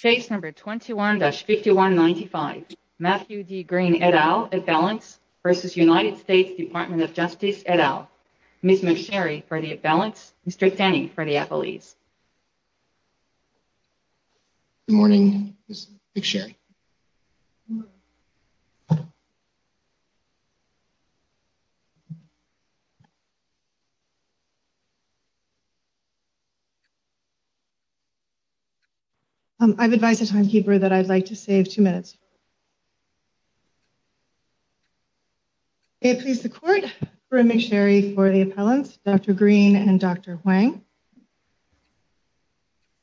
Case number 21-5195, Matthew D. Green, et al., at balance, v. United States Department of Justice, et al., Ms. McSherry for the at balance, Mr. Tanney for the appellees. Good morning, Ms. McSherry. I've advised the timekeeper that I'd like to save two minutes. May it please the Court, Ms. McSherry for the appellants, Dr. Green and Dr. Huang.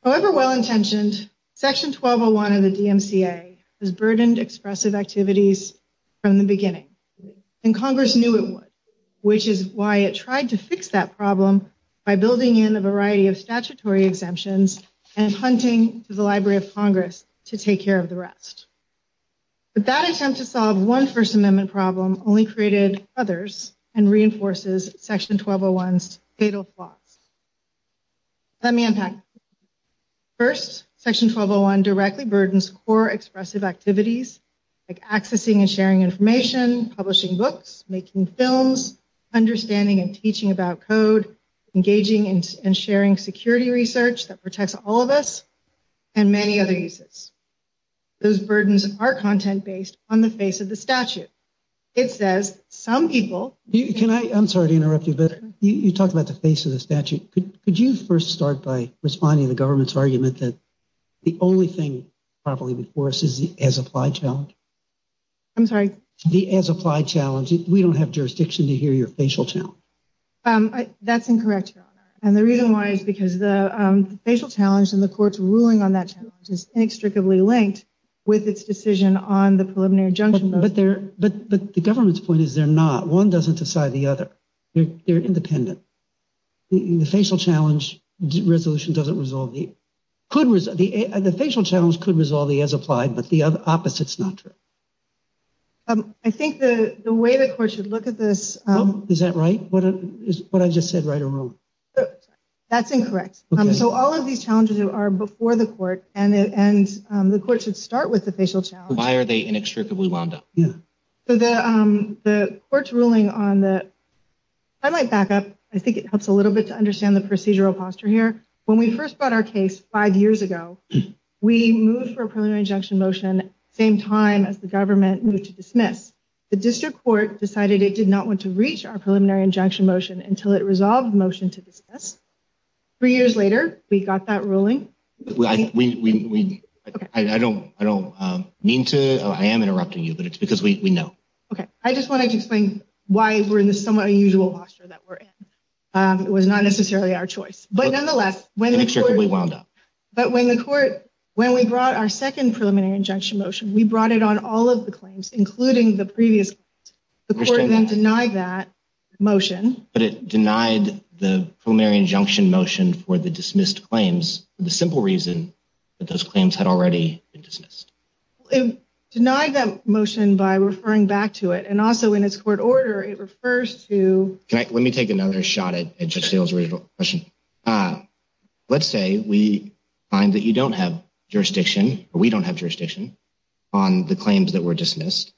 However well-intentioned, Section 1201 of the DMCA has burdened expressive activities from the beginning. And Congress knew it would, which is why it tried to fix that problem by building in a variety of statutory exemptions and hunting to the Library of Congress to take care of the rest. But that attempt to solve one First Amendment problem only created others and reinforces Section 1201's fatal flaws. Let me unpack this. First, Section 1201 directly burdens core expressive activities like accessing and sharing information, publishing books, making films, understanding and teaching about code, engaging and sharing security research that protects all of us, and many other uses. Those burdens are content-based on the face of the statute. It says some people... I'm sorry to interrupt you, but you talk about the face of the statute. Could you first start by responding to the government's argument that the only thing properly before us is the as-applied challenge? I'm sorry? The as-applied challenge. We don't have jurisdiction to hear your facial challenge. That's incorrect, Your Honor. And the reason why is because the facial challenge and the Court's ruling on that challenge is inextricably linked with its decision on the preliminary injunction. But the government's point is they're not. One doesn't decide the other. They're independent. The facial challenge resolution doesn't resolve the... The facial challenge could resolve the as-applied, but the opposite's not true. I think the way the Court should look at this... Is that right? What I just said right or wrong? That's incorrect. So all of these challenges are before the Court, and the Court should start with the facial challenge. Why are they inextricably wound up? The Court's ruling on the... I might back up. I think it helps a little bit to understand the procedural posture here. When we first brought our case five years ago, we moved for a preliminary injunction motion at the same time as the government moved to dismiss. The District Court decided it did not want to reach our preliminary injunction motion until it resolved the motion to dismiss. Three years later, we got that ruling. I don't mean to... I am interrupting you, but it's because we know. Okay. I just wanted to explain why we're in this somewhat unusual posture that we're in. It was not necessarily our choice. But nonetheless... Inextricably wound up. But when the Court... When we brought our second preliminary injunction motion, we brought it on all of the claims, including the previous... The Court then denied that motion. But it denied the preliminary injunction motion for the dismissed claims for the simple reason that those claims had already been dismissed. It denied that motion by referring back to it. And also, in its court order, it refers to... Let me take another shot at Judge Steele's original question. Let's say we find that you don't have jurisdiction, or we don't have jurisdiction, on the claims that were dismissed.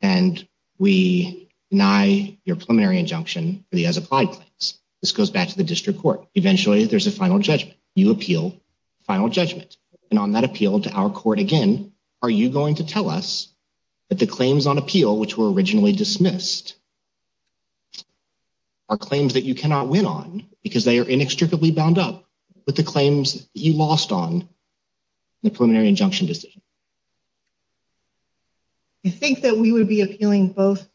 And we deny your preliminary injunction for the as-applied claims. This goes back to the district court. Eventually, there's a final judgment. You appeal the final judgment. And on that appeal to our court again, are you going to tell us that the claims on appeal, which were originally dismissed... Are claims that you cannot win on because they are inextricably bound up with the claims you lost on the preliminary injunction decision? I think that we would be appealing both...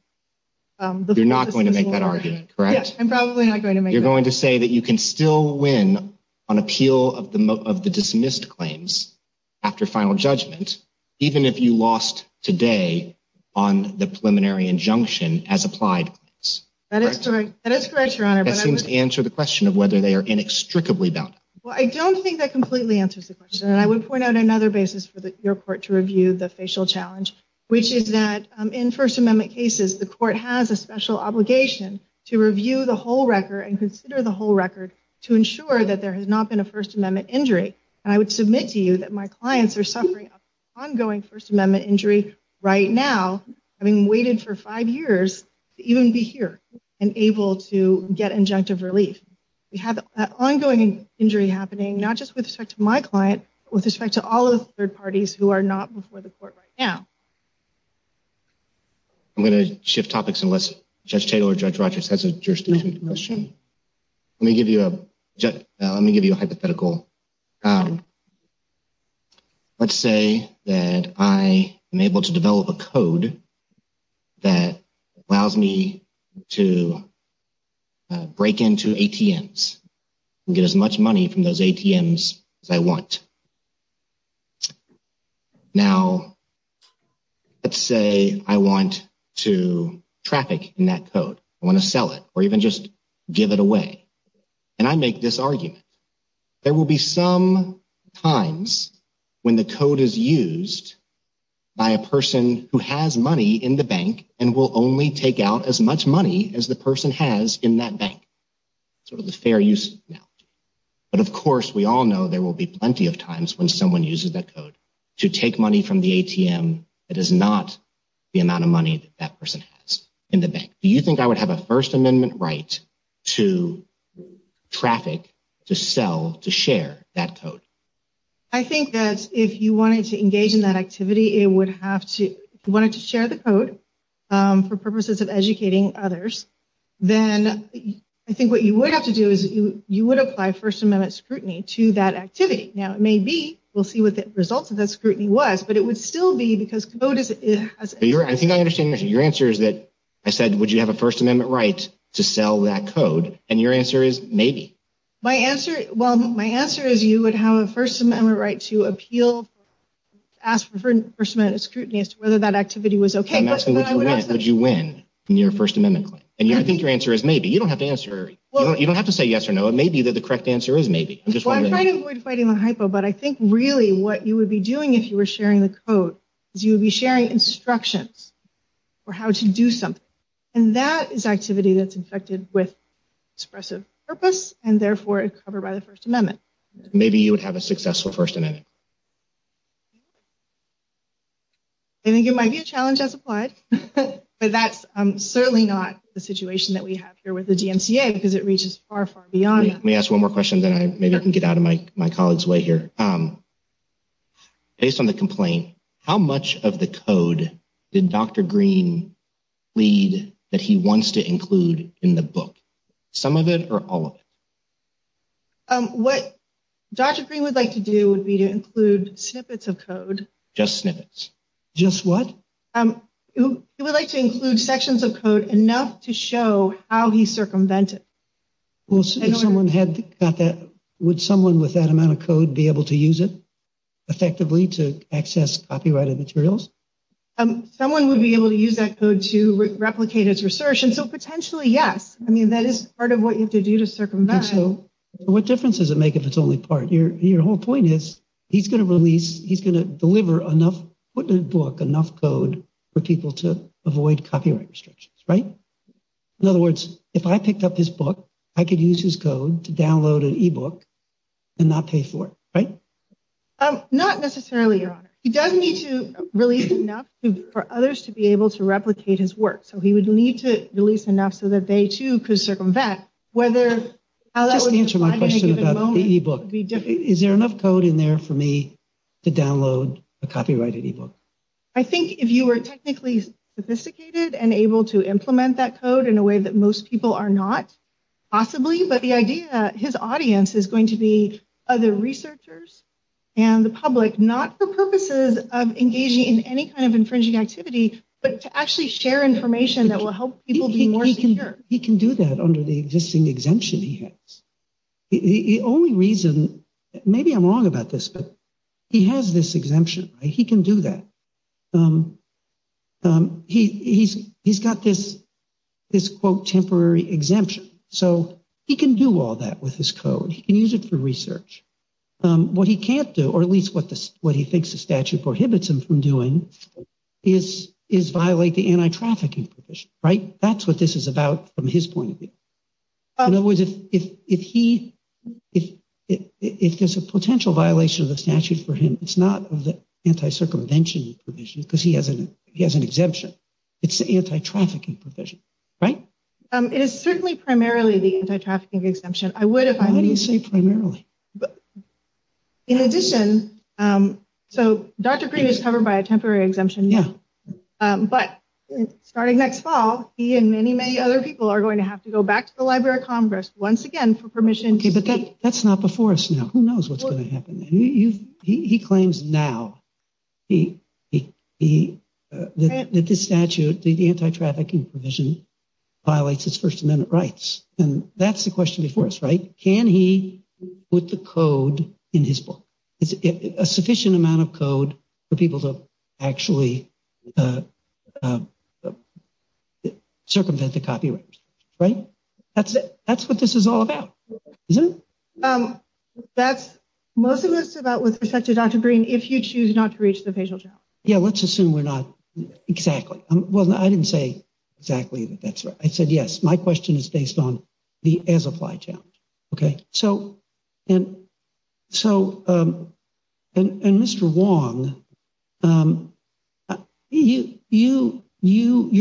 You're not going to make that argument, correct? Yes, I'm probably not going to make that argument. You're going to say that you can still win on appeal of the dismissed claims after final judgment, even if you lost today on the preliminary injunction as-applied claims. That is correct, Your Honor. That seems to answer the question of whether they are inextricably bound up. Well, I don't think that completely answers the question. And I would point out another basis for your court to review the facial challenge, which is that in First Amendment cases, the court has a special obligation to review the whole record and consider the whole record to ensure that there has not been a First Amendment injury. And I would submit to you that my clients are suffering ongoing First Amendment injury right now, having waited for five years to even be here and able to get injunctive relief. We have an ongoing injury happening, not just with respect to my client, but with respect to all of the third parties who are not before the court right now. I'm going to shift topics unless Judge Tatel or Judge Rodgers has a jurisdiction. Let me give you a hypothetical. Let's say that I am able to develop a code that allows me to break into ATMs and get as much money from those ATMs as I want. Now, let's say I want to traffic in that code. I want to sell it or even just give it away. And I make this argument. There will be some times when the code is used by a person who has money in the bank and will only take out as much money as the person has in that bank. Sort of the fair use analogy. But, of course, we all know there will be plenty of times when someone uses that code to take money from the ATM that is not the amount of money that person has in the bank. Do you think I would have a First Amendment right to traffic, to sell, to share that code? I think that if you wanted to engage in that activity, if you wanted to share the code for purposes of educating others, then I think what you would have to do is you would apply First Amendment scrutiny to that activity. Now, maybe we'll see what the results of that scrutiny was, but it would still be because code is... I think I understand your answer is that I said, would you have a First Amendment right to sell that code? And your answer is maybe. Well, my answer is you would have a First Amendment right to appeal, ask for First Amendment scrutiny as to whether that activity was okay. I'm asking, would you win in your First Amendment claim? And I think your answer is maybe. You don't have to say yes or no. It may be that the correct answer is maybe. Well, I'm trying to avoid fighting the hypo, but I think really what you would be doing if you were sharing the code is you would be sharing instructions for how to do something. And that is activity that's infected with expressive purpose and therefore covered by the First Amendment. Maybe you would have a successful First Amendment. I think it might be a challenge as applied, but that's certainly not the situation that we have here with the DMCA because it reaches far, far beyond that. Let me ask one more question, then maybe I can get out of my colleague's way here. Based on the complaint, how much of the code did Dr. Green plead that he wants to include in the book? Some of it or all of it? What Dr. Green would like to do would be to include snippets of code. Just snippets. Just what? He would like to include sections of code enough to show how he circumvented. Would someone with that amount of code be able to use it effectively to access copyrighted materials? Someone would be able to use that code to replicate his research, and so potentially, yes. I mean, that is part of what you have to do to circumvent. What difference does it make if it's only part? Your whole point is he's going to release, he's going to deliver enough, put in the book enough code for people to avoid copyright restrictions, right? In other words, if I picked up his book, I could use his code to download an e-book and not pay for it, right? Not necessarily, Your Honor. He does need to release enough for others to be able to replicate his work, so he would need to release enough so that they, too, could circumvent. Just answer my question about the e-book. Is there enough code in there for me to download a copyrighted e-book? I think if you were technically sophisticated and able to implement that code in a way that most people are not, possibly, but the idea that his audience is going to be other researchers and the public, not for purposes of engaging in any kind of infringing activity, but to actually share information that will help people be more secure. He can do that under the existing exemption he has. The only reason, maybe I'm wrong about this, but he has this exemption, right? He can do that. He's got this, quote, temporary exemption, so he can do all that with his code. He can use it for research. What he can't do, or at least what he thinks the statute prohibits him from doing, is violate the anti-trafficking provision, right? That's what this is about from his point of view. In other words, if there's a potential violation of the statute for him, it's not the anti-circumvention provision, because he has an exemption. It's the anti-trafficking provision, right? It is certainly primarily the anti-trafficking exemption. Why do you say primarily? In addition, so Dr. Green is covered by a temporary exemption now. But starting next fall, he and many, many other people are going to have to go back to the Library of Congress once again for permission. Okay, but that's not before us now. Who knows what's going to happen? He claims now that this statute, the anti-trafficking provision, violates his First Amendment rights. And that's the question before us, right? Can he put the code in his book? A sufficient amount of code for people to actually circumvent the copyright restrictions, right? That's what this is all about, isn't it? That's most of what it's about with respect to Dr. Green, if you choose not to reach the facial challenge. Yeah, let's assume we're not, exactly. Well, I didn't say exactly that that's right. I said, yes, my question is based on the as-applied challenge. Okay, so, and Mr. Wong, your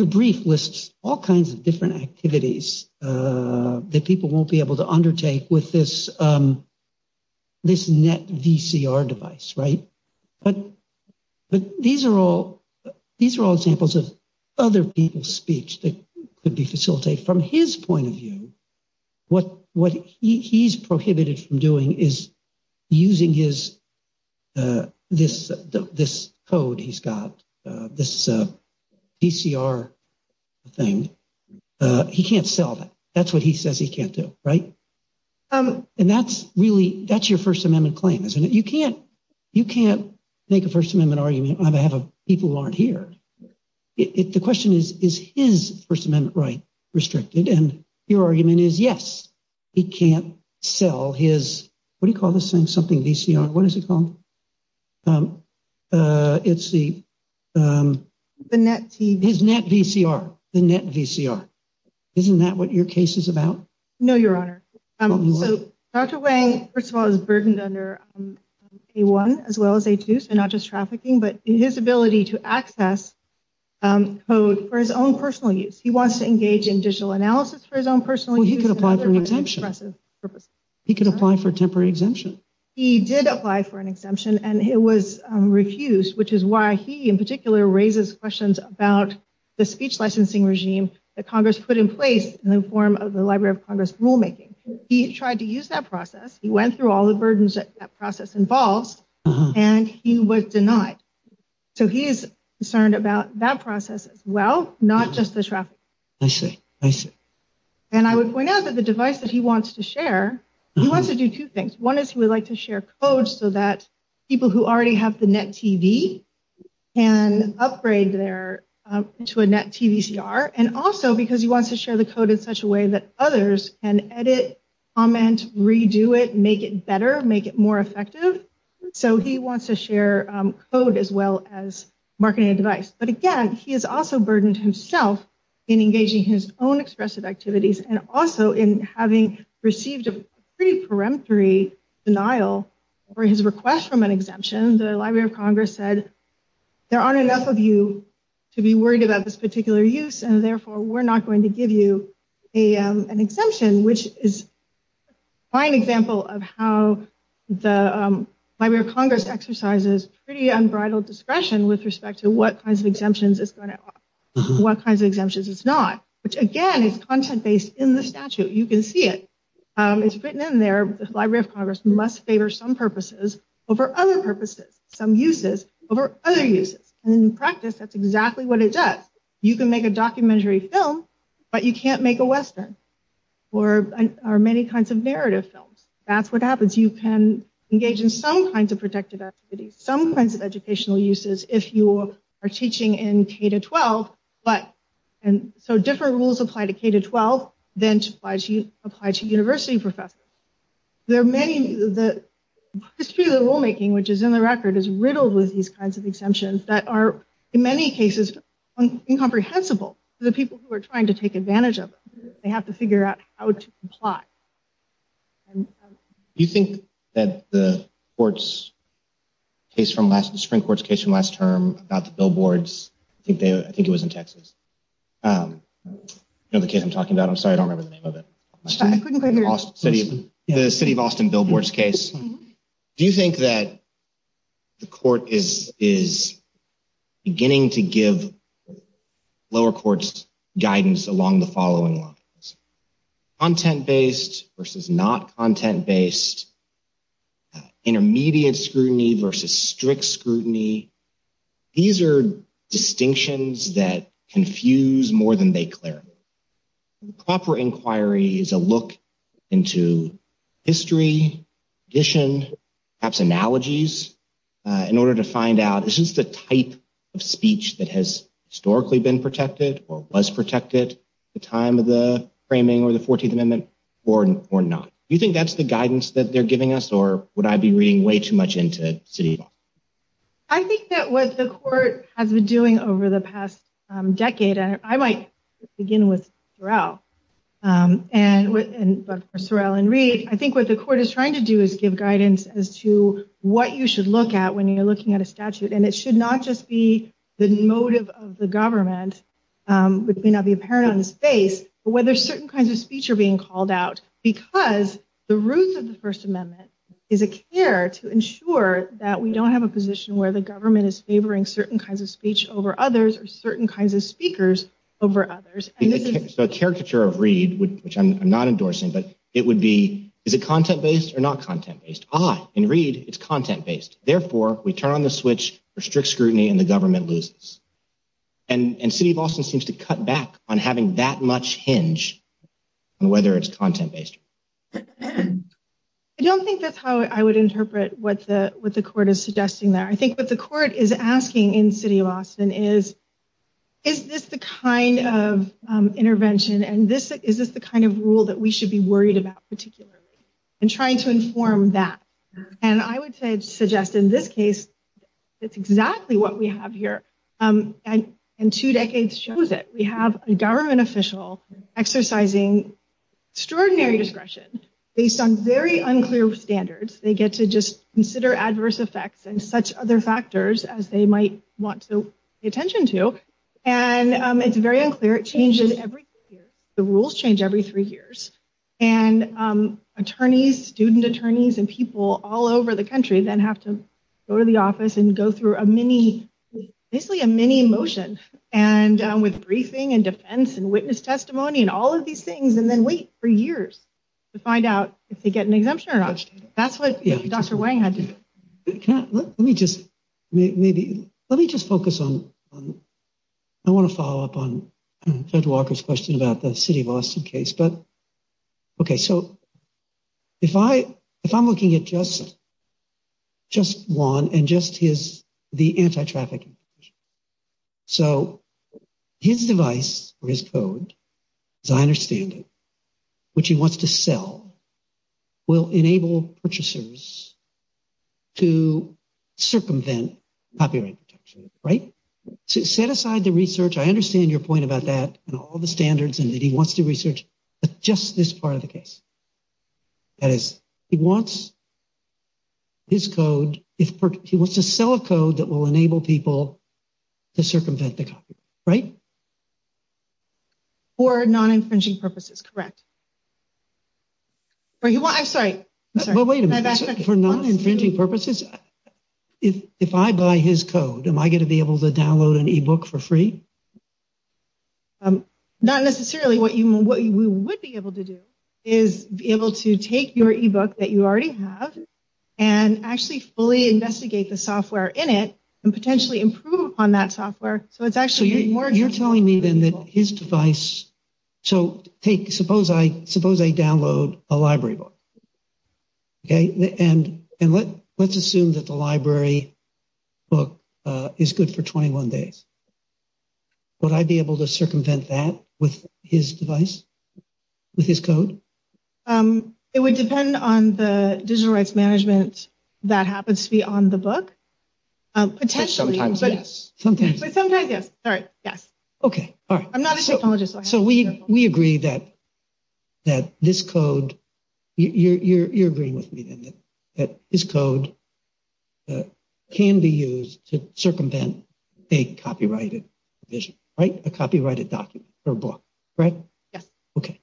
brief lists all kinds of different activities that people won't be able to undertake with this net VCR device, right? But these are all examples of other people's speech that could be facilitated. From his point of view, what he's prohibited from doing is using this code he's got, this VCR thing. He can't sell that. That's what he says he can't do, right? And that's your First Amendment claim, isn't it? You can't make a First Amendment argument on behalf of people who aren't here. The question is, is his First Amendment right restricted? And your argument is, yes, he can't sell his, what do you call this thing, something VCR? What is it called? It's the, his net VCR, the net VCR. Isn't that what your case is about? No, Your Honor. So, Dr. Wang, first of all, is burdened under A1 as well as A2, so not just trafficking, but his ability to access code for his own personal use. He wants to engage in digital analysis for his own personal use. Well, he could apply for an exemption. He could apply for a temporary exemption. He did apply for an exemption, and it was refused, which is why he, in particular, raises questions about the speech licensing regime that Congress put in place in the form of the Library of Congress rulemaking. He tried to use that process. He went through all the burdens that process involves, and he was denied. So he is concerned about that process as well, not just the trafficking. I see. I see. And I would point out that the device that he wants to share, he wants to do two things. One is he would like to share code so that people who already have the net TV can upgrade there to a net TVCR. And also because he wants to share the code in such a way that others can edit, comment, redo it, make it better, make it more effective. So he wants to share code as well as marketing a device. But, again, he has also burdened himself in engaging his own expressive activities and also in having received a pretty peremptory denial for his request from an exemption. The Library of Congress said, there aren't enough of you to be worried about this particular use, and therefore we're not going to give you an exemption, which is a fine example of how the Library of Congress exercises pretty unbridled discretion with respect to what kinds of exemptions are in place. What kinds of exemptions are not. Which, again, is content-based in the statute. You can see it. It's written in there, the Library of Congress must favor some purposes over other purposes, some uses over other uses. In practice, that's exactly what it does. You can make a documentary film, but you can't make a Western or many kinds of narrative films. That's what happens. You can engage in some kinds of protective activities, some kinds of educational uses, if you are teaching in K-12. So different rules apply to K-12 than apply to university professors. The history of the rulemaking, which is in the record, is riddled with these kinds of exemptions that are, in many cases, incomprehensible to the people who are trying to take advantage of them. They have to figure out how to comply. Do you think that the Supreme Court's case from last term about the billboards, I think it was in Texas. You know the case I'm talking about? I'm sorry, I don't remember the name of it. The city of Austin billboards case. Do you think that the court is beginning to give lower courts guidance along the following lines? Content-based versus not content-based. Intermediate scrutiny versus strict scrutiny. These are distinctions that confuse more than they clarify. A proper inquiry is a look into history, tradition, perhaps analogies, in order to find out, is this the type of speech that has historically been protected or was protected at the time of the framing or the 14th Amendment or not? Do you think that's the guidance that they're giving us or would I be reading way too much into the city of Austin? I think that what the court has been doing over the past decade, and I might begin with Sorrell and read, I think what the court is trying to do is give guidance as to what you should look at when you're looking at a statute. And it should not just be the motive of the government, which may not be apparent on the space, but whether certain kinds of speech are being called out because the roots of the First Amendment is a care to ensure that we don't have a position where the government is favoring certain kinds of speech over others or certain kinds of speakers over others. So a caricature of Reed, which I'm not endorsing, but it would be, is it content-based or not content-based? Ah, in Reed, it's content-based. Therefore, we turn on the switch for strict scrutiny and the government loses. And city of Austin seems to cut back on having that much hinge on whether it's content-based. I don't think that's how I would interpret what the court is suggesting there. I think what the court is asking in city of Austin is, is this the kind of intervention and is this the kind of rule that we should be worried about particularly? And trying to inform that. And I would suggest in this case, it's exactly what we have here. And two decades shows it. We have a government official exercising extraordinary discretion based on very unclear standards. They get to just consider adverse effects and such other factors as they might want to pay attention to. And it's very unclear. It changes every year. The rules change every three years. And attorneys, student attorneys and people all over the country then have to go to the office and go through a mini, basically a mini motion. And with briefing and defense and witness testimony and all of these things, and then wait for years to find out if they get an exemption or not. That's what Dr. Wang had to do. Let me just maybe, let me just focus on, I want to follow up on Ted Walker's question about the city of Austin case. But, okay, so if I, if I'm looking at just, just one and just his, the anti-trafficking. So his device or his code, as I understand it, which he wants to sell will enable purchasers to circumvent copyright protection, right? Set aside the research. I understand your point about that and all the standards and that he wants to research. But just this part of the case, that is, he wants his code if he wants to sell a code that will enable people to circumvent the copyright, right? Or non-infringing purposes, correct? Or you want, I'm sorry. But wait a minute, for non-infringing purposes, if I buy his code, am I going to be able to download an e-book for free? Not necessarily. What you, what we would be able to do is be able to take your e-book that you already have and actually fully investigate the software in it and potentially improve upon that software. So it's actually more. You're telling me then that his device. So take, suppose I, suppose I download a library book. Okay, and, and let, let's assume that the library book is good for 21 days. Would I be able to circumvent that with his device, with his code? It would depend on the digital rights management that happens to be on the book. Potentially. Sometimes, yes. Sometimes, yes. All right, yes. Okay, all right. I'm not a technologist. So we, we agree that, that this code, you're agreeing with me then that his code can be used to circumvent a copyrighted vision, right? A copyrighted document or book, right? Yes. Okay.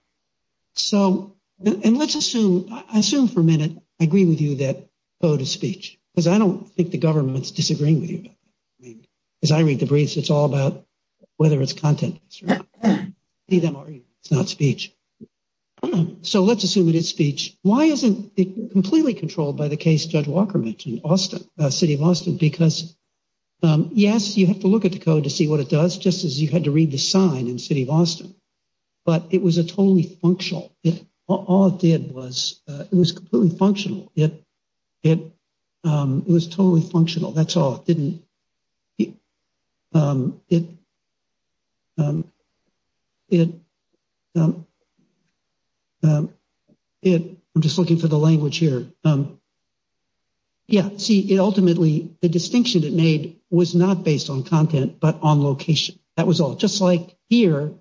So, and let's assume, I assume for a minute, I agree with you that code of speech, because I don't think the government's disagreeing with you. As I read the briefs, it's all about whether it's content. It's not speech. So let's assume it is speech. Why isn't it completely controlled by the case Judge Walker mentioned, Austin, City of Austin? Because, yes, you have to look at the code to see what it does, just as you had to read the sign in City of Austin. But it was a totally functional, all it did was, it was completely functional. It, it, it was totally functional. That's all. It didn't, it, it, it, I'm just looking for the language here. Yeah, see, it ultimately, the distinction it made was not based on content, but on location. That was all. Just like here,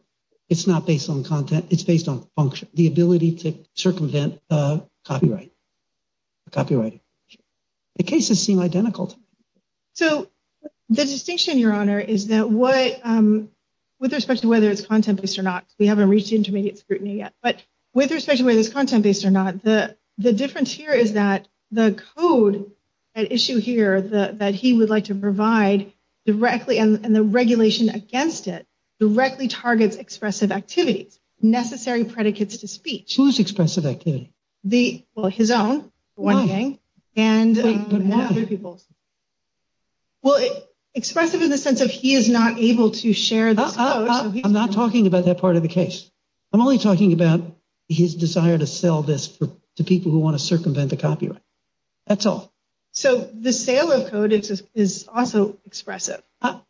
it's not based on content, it's based on function, the ability to circumvent copyright, copyright. The cases seem identical to me. So, the distinction, Your Honor, is that what, with respect to whether it's content-based or not, because we haven't reached intermediate scrutiny yet, but with respect to whether it's content-based or not, the, the difference here is that the code at issue here, the, that he would like to provide directly, and the regulation against it, directly targets expressive activities, necessary predicates to speech. Whose expressive activity? The, well, his own, for one thing. No. And, um. Wait, but what? Other people's. Well, expressive in the sense of he is not able to share this code. I'm not talking about that part of the case. I'm only talking about his desire to sell this for, to people who want to circumvent the copyright. That's all. So, the sale of code is also expressive. I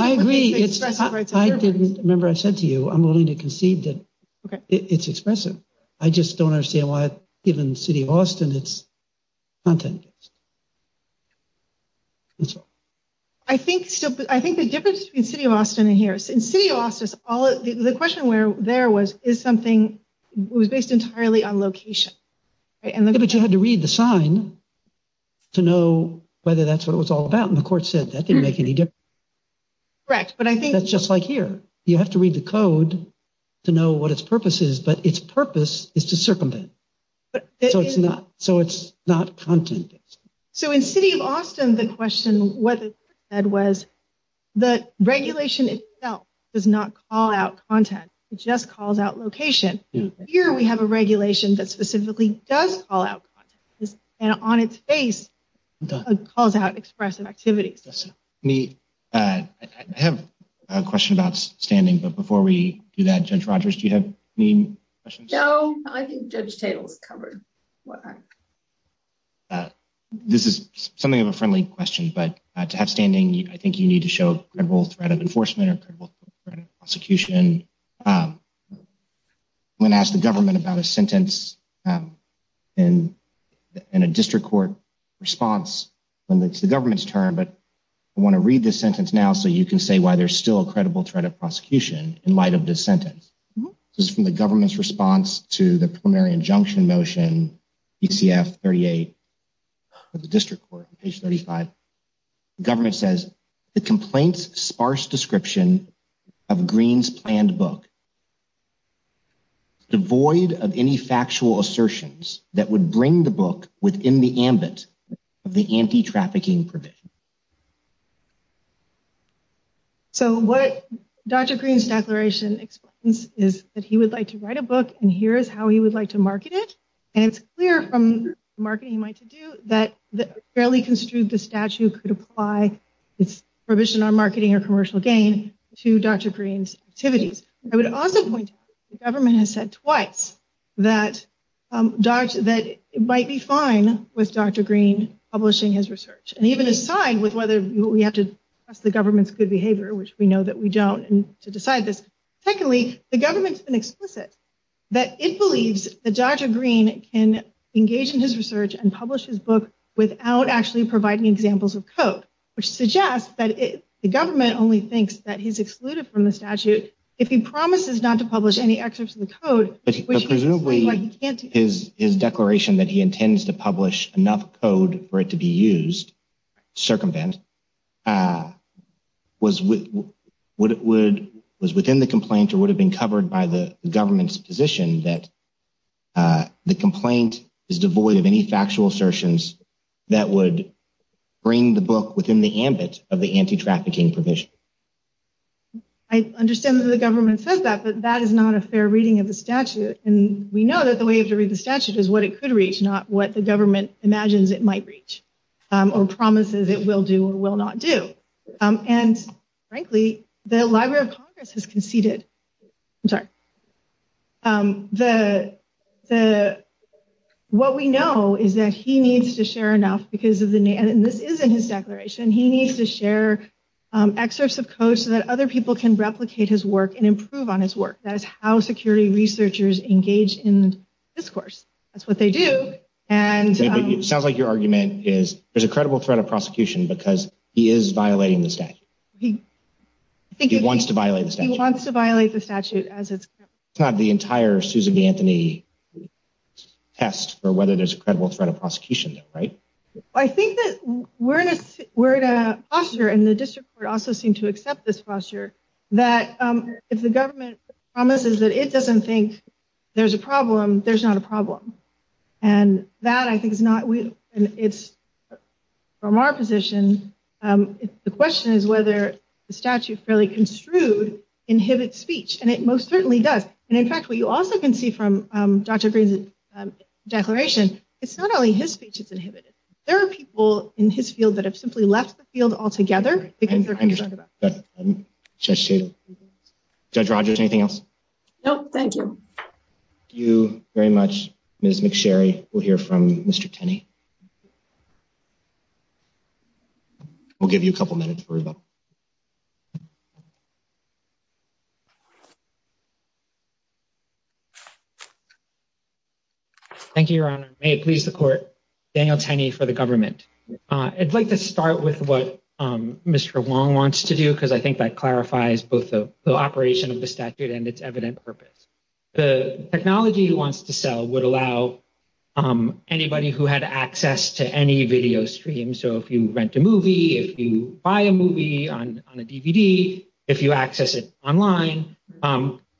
agree. I didn't, remember I said to you, I'm willing to concede that it's expressive. I just don't understand why, given the city of Austin, it's content-based. That's all. I think, I think the difference between the city of Austin and here, in the city of Austin, the question there was, is something, it was based entirely on location. But you had to read the sign to know whether that's what it was all about. And the court said that didn't make any difference. Correct. But I think. That's just like here. You have to read the code to know what its purpose is, but its purpose is to circumvent. So, it's not, so it's not content-based. So, in the city of Austin, the question, what the court said was, the regulation itself does not call out content. It just calls out location. Here, we have a regulation that specifically does call out content. And on its face, it calls out expressive activities. I have a question about standing, but before we do that, Judge Rogers, do you have any questions? No, I think Judge Tatel's covered. This is something of a friendly question, but to have standing, I think you need to show credible threat of enforcement or credible threat of prosecution. I'm going to ask the government about a sentence in a district court response when it's the government's turn, but I want to read this sentence now so you can say why there's still a credible threat of prosecution in light of this sentence. This is from the government's response to the preliminary injunction motion, ECF 38 of the district court, page 35. The government says, the complaint's sparse description of Green's planned book is devoid of any factual assertions that would bring the book within the ambit of the anti-trafficking provision. So what Dr. Green's declaration explains is that he would like to write a book, and here is how he would like to market it. And it's clear from the marketing he might do that the fairly construed statute could apply its provision on marketing or commercial gain to Dr. Green's activities. I would also point out that the government has said twice that it might be fine with Dr. Green publishing his research. And even aside with whether we have to trust the government's good behavior, which we know that we don't, to decide this. Secondly, the government's been explicit that it believes that Dr. Green can engage in his research and publish his book without actually providing examples of code, which suggests that the government only thinks that he's excluded from the statute if he promises not to publish any excerpts of the code. But presumably his declaration that he intends to publish enough code for it to be used, circumvent, was within the complaint or would have been covered by the government's position that the complaint is devoid of any factual assertions that would bring the book within the ambit of the anti-trafficking provision. I understand that the government says that, but that is not a fair reading of the statute. And we know that the way to read the statute is what it could reach, not what the government imagines it might reach or promises it will do or will not do. And frankly, the Library of Congress has conceded, I'm sorry, what we know is that he needs to share enough, and this is in his declaration, he needs to share excerpts of code so that other people can replicate his work and improve on his work. That is how security researchers engage in discourse. That's what they do. It sounds like your argument is there's a credible threat of prosecution because he is violating the statute. He wants to violate the statute. He wants to violate the statute. It's not the entire Susan B. Anthony test for whether there's a credible threat of prosecution, right? I think that we're in a posture, and the district court also seemed to accept this posture, that if the government promises that it doesn't think there's a problem, there's not a problem. And that I think is not, and it's from our position, the question is whether the statute fairly construed inhibits speech, and it most certainly does. And in fact, what you also can see from Dr. Greene's declaration, it's not only his speech that's inhibited. There are people in his field that have simply left the field altogether because they're concerned about this. Judge Rogers, anything else? No, thank you. Thank you very much, Ms. McSherry. We'll hear from Mr. Tenney. We'll give you a couple minutes for rebuttal. Thank you, Your Honor. May it please the court, Daniel Tenney for the government. I'd like to start with what Mr. Wong wants to do, because I think that clarifies both the operation of the statute and its evident purpose. The technology he wants to sell would allow anybody who had access to any video stream. So if you rent a movie, if you buy a movie on a DVD, if you access it online,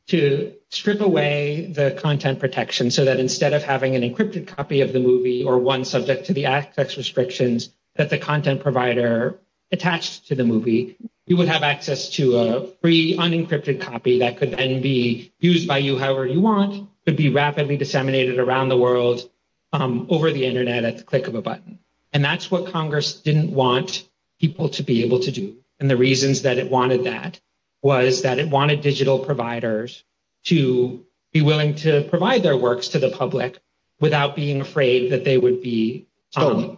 to strip away the content protection. So that instead of having an encrypted copy of the movie or one subject to the access restrictions that the content provider attached to the movie, you would have access to a free unencrypted copy that could then be used by you however you want, could be rapidly disseminated around the world over the Internet at the click of a button. And that's what Congress didn't want people to be able to do. And the reasons that it wanted that was that it wanted digital providers to be willing to provide their works to the public without being afraid that they would be stolen.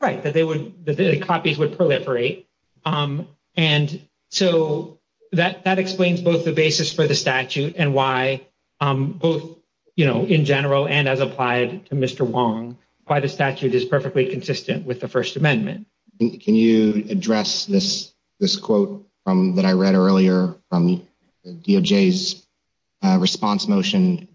Right. That copies would proliferate. And so that that explains both the basis for the statute and why both, you know, in general and as applied to Mr. Wong, why the statute is perfectly consistent with the First Amendment. Can you address this? This quote that I read earlier on the DOJ's response motion?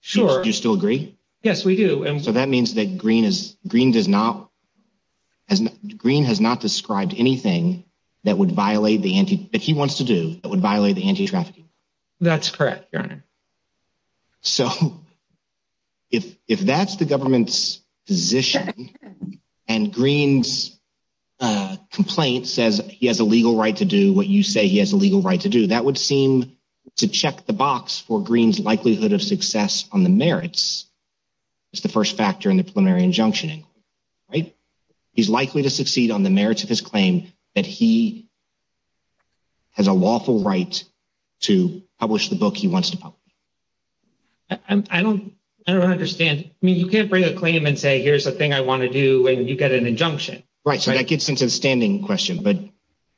Sure. Do you still agree? Yes, we do. And so that means that Green is Green does not as Green has not described anything that would violate the anti that he wants to do. It would violate the anti-trafficking. That's correct. So. If if that's the government's position and Green's complaint says he has a legal right to do what you say he has a legal right to do, that would seem to check the box for Green's likelihood of success on the merits. It's the first factor in the preliminary injunction. Right. He's likely to succeed on the merits of his claim that he has a lawful right to publish the book he wants to publish. And I don't I don't understand. I mean, you can't bring a claim and say, here's the thing I want to do. And you get an injunction. Right. So that gets into the standing question. But,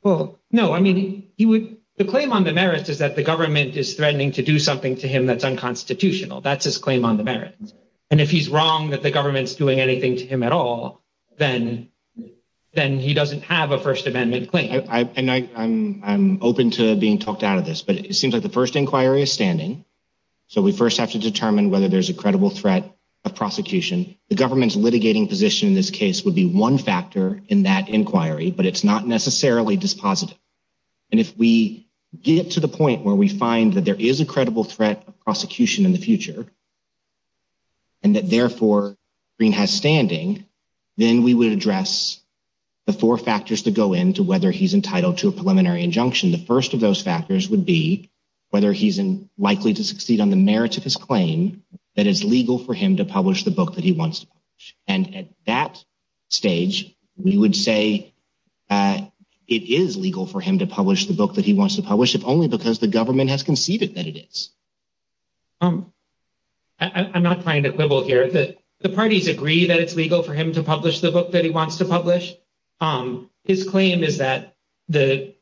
well, no, I mean, he would. The claim on the merits is that the government is threatening to do something to him that's unconstitutional. That's his claim on the merits. And if he's wrong that the government's doing anything to him at all, then then he doesn't have a First Amendment claim. I know I'm I'm open to being talked out of this, but it seems like the first inquiry is standing. So we first have to determine whether there's a credible threat of prosecution. The government's litigating position in this case would be one factor in that inquiry, but it's not necessarily dispositive. And if we get to the point where we find that there is a credible threat of prosecution in the future. And that, therefore, Green has standing, then we would address the four factors to go into whether he's entitled to a preliminary injunction. The first of those factors would be whether he's likely to succeed on the merits of his claim that is legal for him to publish the book that he wants. And at that stage, we would say it is legal for him to publish the book that he wants to publish, if only because the government has conceded that it is. I'm not trying to quibble here that the parties agree that it's legal for him to publish the book that he wants to publish. His claim is that the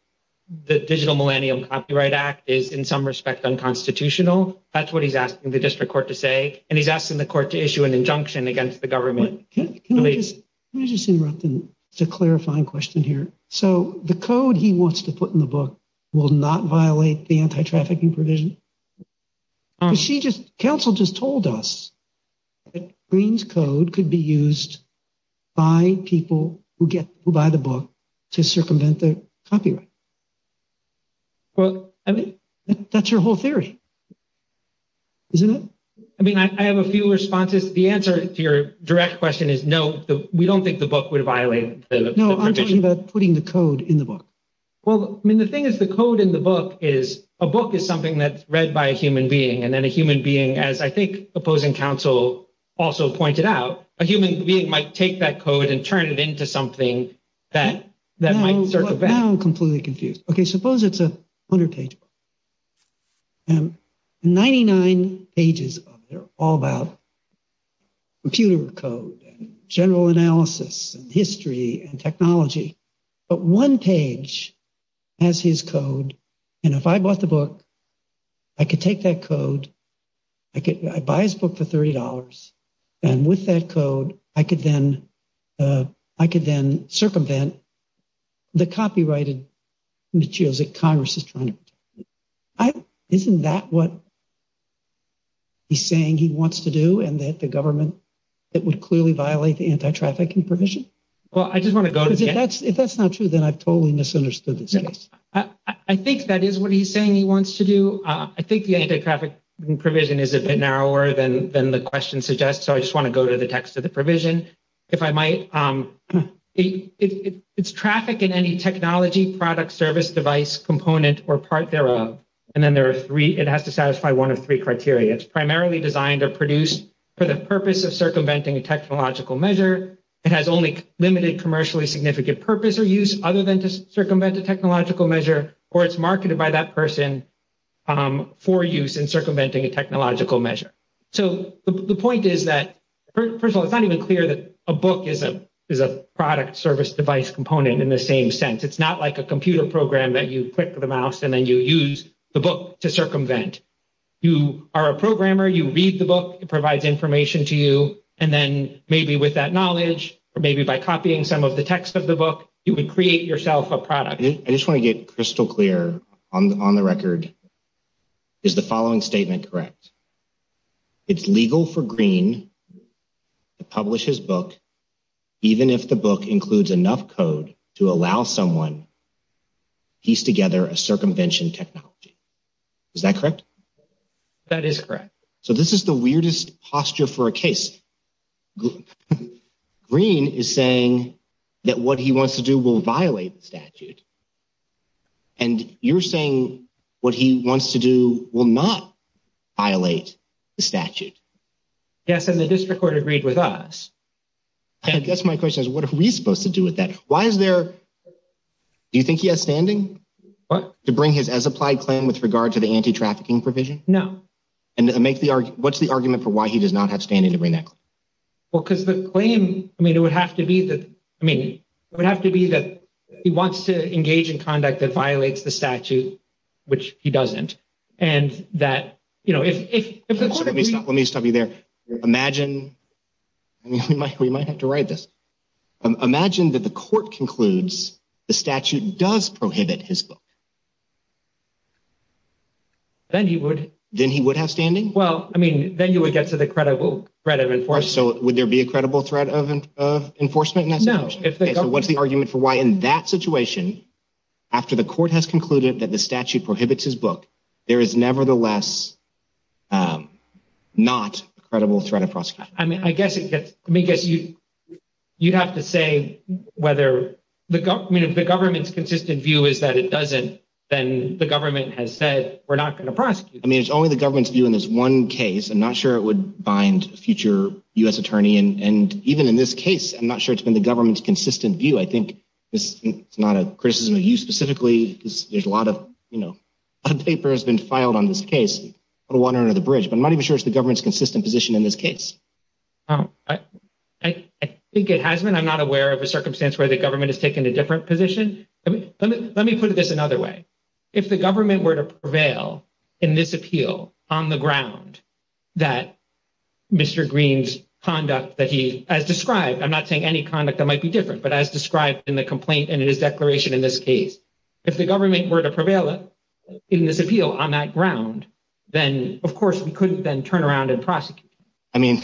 Digital Millennium Copyright Act is in some respect unconstitutional. That's what he's asking the district court to say. And he's asking the court to issue an injunction against the government. Can I just interrupt? It's a clarifying question here. So the code he wants to put in the book will not violate the anti-trafficking provision. She just counsel just told us that Green's code could be used by people who get by the book to circumvent the copyright. Well, I mean, that's your whole theory, isn't it? I mean, I have a few responses. The answer to your direct question is no. We don't think the book would violate that putting the code in the book. Well, I mean, the thing is, the code in the book is a book is something that's read by a human being. And then a human being, as I think opposing counsel also pointed out, a human being might take that code and turn it into something that that might. So now I'm completely confused. OK, suppose it's a hundred page. Ninety nine pages. They're all about. Computer code, general analysis, history and technology. But one page has his code. And if I bought the book, I could take that code. I could buy his book for $30. And with that code, I could then I could then circumvent the copyrighted materials that Congress is trying to. Isn't that what. He's saying he wants to do and that the government that would clearly violate the anti-trafficking provision. Well, I just want to go to that. If that's not true, then I've totally misunderstood this case. I think that is what he's saying he wants to do. I think the anti-trafficking provision is a bit narrower than the question suggests. So I just want to go to the text of the provision if I might. It's traffic in any technology, product, service, device, component or part thereof. And then there are three. It has to satisfy one of three criteria. It's primarily designed or produced for the purpose of circumventing a technological measure. It has only limited commercially significant purpose or use other than to circumvent a technological measure, or it's marketed by that person for use in circumventing a technological measure. So the point is that, first of all, it's not even clear that a book is a product, service, device component in the same sense. It's not like a computer program that you click the mouse and then you use the book to circumvent. You are a programmer. You read the book. It provides information to you. And then maybe with that knowledge or maybe by copying some of the text of the book, you would create yourself a product. I just want to get crystal clear on the record. Is the following statement correct? It's legal for Green to publish his book even if the book includes enough code to allow someone to piece together a circumvention technology. Is that correct? That is correct. So this is the weirdest posture for a case. Green is saying that what he wants to do will violate the statute. And you're saying what he wants to do will not violate the statute. Yes. And the district court agreed with us. I guess my question is, what are we supposed to do with that? Why is there – do you think he has standing to bring his as-applied claim with regard to the anti-trafficking provision? No. And make the – what's the argument for why he does not have standing to bring that claim? Well, because the claim – I mean, it would have to be that – I mean, it would have to be that he wants to engage in conduct that violates the statute, which he doesn't. So let me stop you there. Imagine – I mean, we might have to write this. Imagine that the court concludes the statute does prohibit his book. Then he would – Then he would have standing? Well, I mean, then you would get to the credible threat of enforcement. So would there be a credible threat of enforcement in that situation? No. So what's the argument for why in that situation, after the court has concluded that the statute prohibits his book, there is nevertheless not a credible threat of prosecution? I mean, I guess it gets – I mean, I guess you'd have to say whether – I mean, if the government's consistent view is that it doesn't, then the government has said we're not going to prosecute. I mean, it's only the government's view in this one case. I'm not sure it would bind a future U.S. attorney. And even in this case, I'm not sure it's been the government's consistent view. I think it's not a criticism of you specifically because there's a lot of – you know, a lot of paper has been filed on this case, a lot of water under the bridge. But I'm not even sure it's the government's consistent position in this case. I think it has been. I'm not aware of a circumstance where the government has taken a different position. Let me put this another way. If the government were to prevail in this appeal on the ground that Mr. Green's conduct that he – as described – I'm not saying any conduct that might be different, but as described in the complaint and in his declaration in this case. If the government were to prevail in this appeal on that ground, then of course we couldn't then turn around and prosecute him. I mean,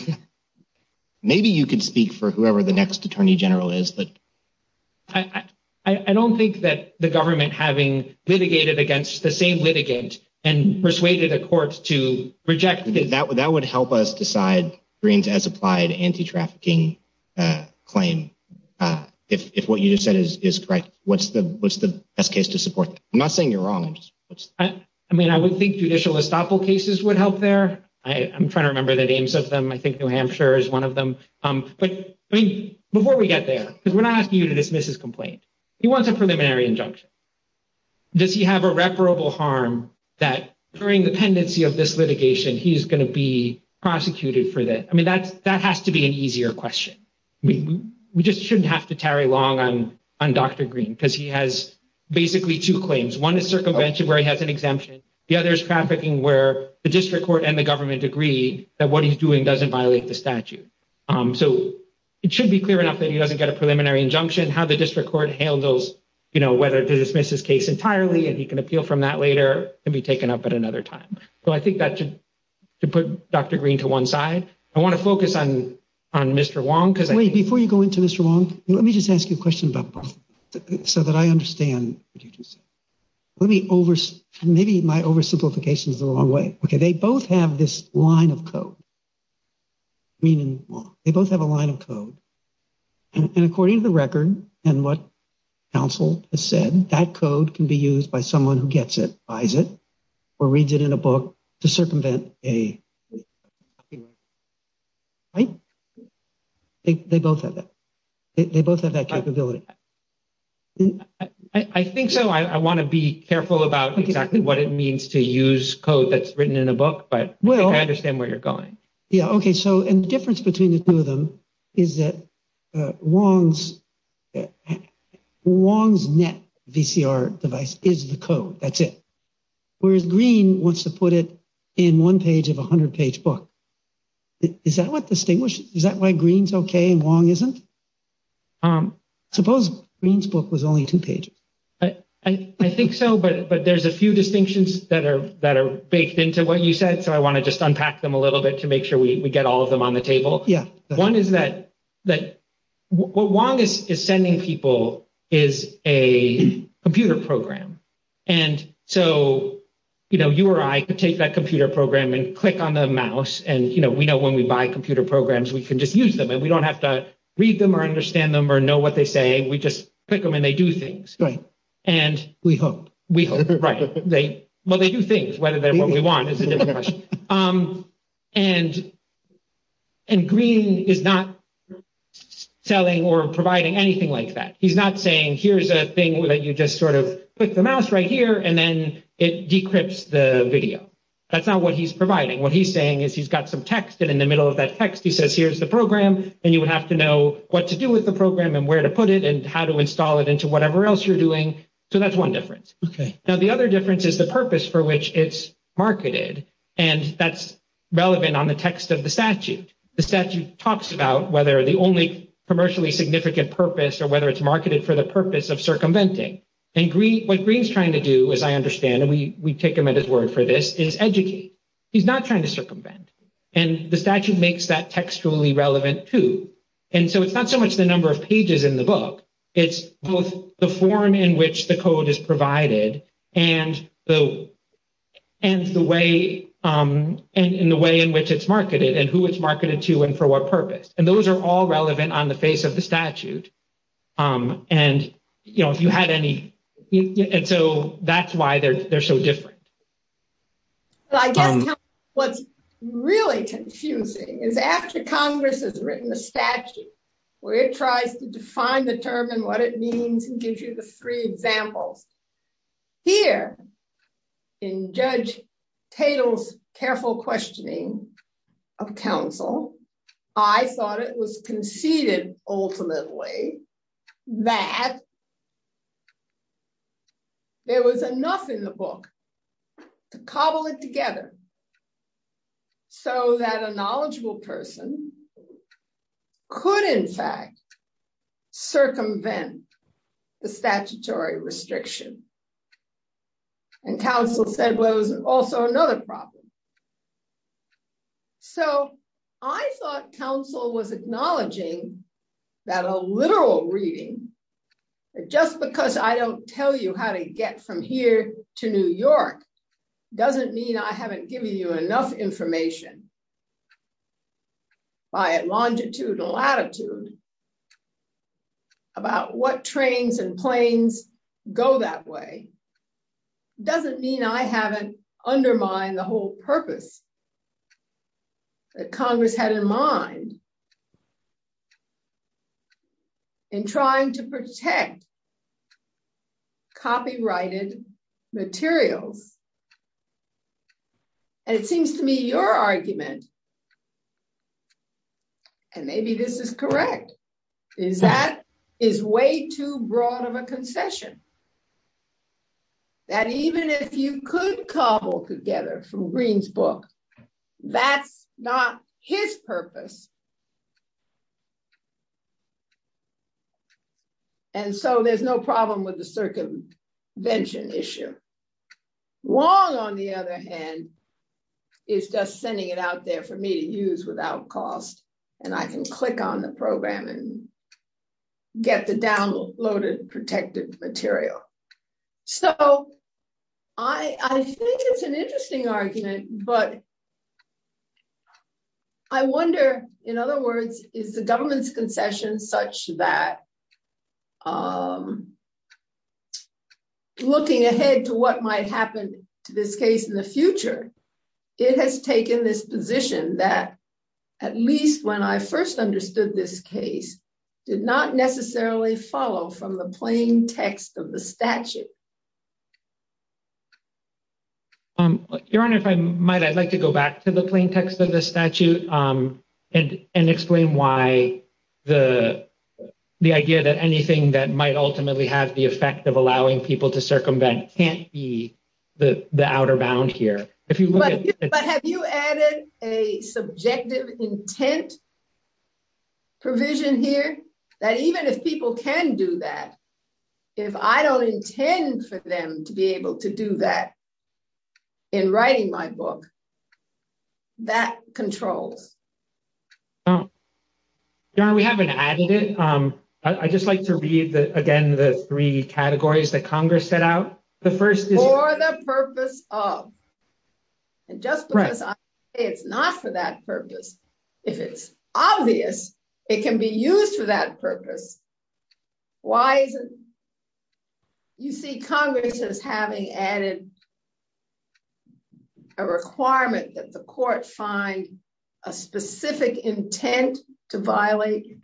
maybe you could speak for whoever the next attorney general is, but – I don't think that the government, having litigated against the same litigant and persuaded a court to reject – That would help us decide Green's as-applied anti-trafficking claim. If what you just said is correct, what's the best case to support that? I'm not saying you're wrong. I mean, I would think judicial estoppel cases would help there. I'm trying to remember the names of them. I think New Hampshire is one of them. But, I mean, before we get there, because we're not asking you to dismiss his complaint. He wants a preliminary injunction. Does he have irreparable harm that during the pendency of this litigation he's going to be prosecuted for that? I mean, that has to be an easier question. We just shouldn't have to tarry long on Dr. Green because he has basically two claims. One is circumvention where he has an exemption. The other is trafficking where the district court and the government agree that what he's doing doesn't violate the statute. So it should be clear enough that he doesn't get a preliminary injunction. How the district court handles whether to dismiss his case entirely, and he can appeal from that later, can be taken up at another time. So I think that should put Dr. Green to one side. I want to focus on Mr. Wong because – Before you go into Mr. Wong, let me just ask you a question about both so that I understand what you just said. Maybe my oversimplification is the wrong way. Okay. They both have this line of code. They both have a line of code. And according to the record and what counsel has said, that code can be used by someone who gets it, buys it, or reads it in a book to circumvent a copyright claim. Right? They both have that. They both have that capability. I think so. I want to be careful about exactly what it means to use code that's written in a book, but I think I understand where you're going. Yeah, okay. So the difference between the two of them is that Wong's net VCR device is the code. That's it. Whereas Green wants to put it in one page of a 100-page book. Is that what distinguishes – is that why Green's okay and Wong isn't? Suppose Green's book was only two pages. I think so, but there's a few distinctions that are baked into what you said, so I want to just unpack them a little bit to make sure we get all of them on the table. One is that what Wong is sending people is a computer program. And so you or I could take that computer program and click on the mouse, and we know when we buy computer programs, we can just use them. We don't have to read them or understand them or know what they say. We just click them, and they do things. Right. We hope. We hope, right. Well, they do things, whether they're what we want is a different question. And Green is not selling or providing anything like that. He's not saying here's a thing that you just sort of click the mouse right here, and then it decrypts the video. That's not what he's providing. What he's saying is he's got some text, and in the middle of that text he says here's the program, and you would have to know what to do with the program and where to put it and how to install it into whatever else you're doing. So that's one difference. Okay. Now the other difference is the purpose for which it's marketed, and that's relevant on the text of the statute. The statute talks about whether the only commercially significant purpose or whether it's marketed for the purpose of circumventing. And what Green's trying to do, as I understand, and we take him at his word for this, is educate. He's not trying to circumvent. And the statute makes that textually relevant, too. And so it's not so much the number of pages in the book. It's both the form in which the code is provided and the way in which it's marketed and who it's marketed to and for what purpose. And those are all relevant on the face of the statute. And, you know, if you had any. And so that's why they're so different. I guess what's really confusing is after Congress has written a statute where it tries to define the term and what it means and give you the three examples. Here in Judge Tatel's careful questioning of counsel, I thought it was conceded, ultimately, that there was enough in the book to cobble it together. So that a knowledgeable person could in fact circumvent the statutory restriction. And counsel said was also another problem. So I thought counsel was acknowledging that a literal reading. Just because I don't tell you how to get from here to New York doesn't mean I haven't given you enough information. By a longitudinal attitude about what trains and planes go that way doesn't mean I haven't undermined the whole purpose that Congress had in mind in trying to protect copyrighted materials. And it seems to me your argument. And maybe this is correct, is that is way too broad of a concession. That even if you could cobble together from Green's book. That's not his purpose. And so there's no problem with the circumvention issue. Wong, on the other hand, is just sending it out there for me to use without cost, and I can click on the program and get the downloaded protected material. So, I think it's an interesting argument, but I wonder, in other words, is the government's concession such that looking ahead to what might happen to this case in the future. It has taken this position that at least when I first understood this case did not necessarily follow from the plain text of the statute. Your Honor, if I might, I'd like to go back to the plain text of the statute and explain why the idea that anything that might ultimately have the effect of allowing people to circumvent can't be the outer bound here. But have you added a subjective intent provision here? That even if people can do that, if I don't intend for them to be able to do that in writing my book, that controls. Your Honor, we haven't added it. I'd just like to read, again, the three categories that Congress set out. For the purpose of. And just because I say it's not for that purpose, if it's obvious, it can be used for that purpose. Why isn't it? You see Congress as having added a requirement that the court find a specific intent to violate.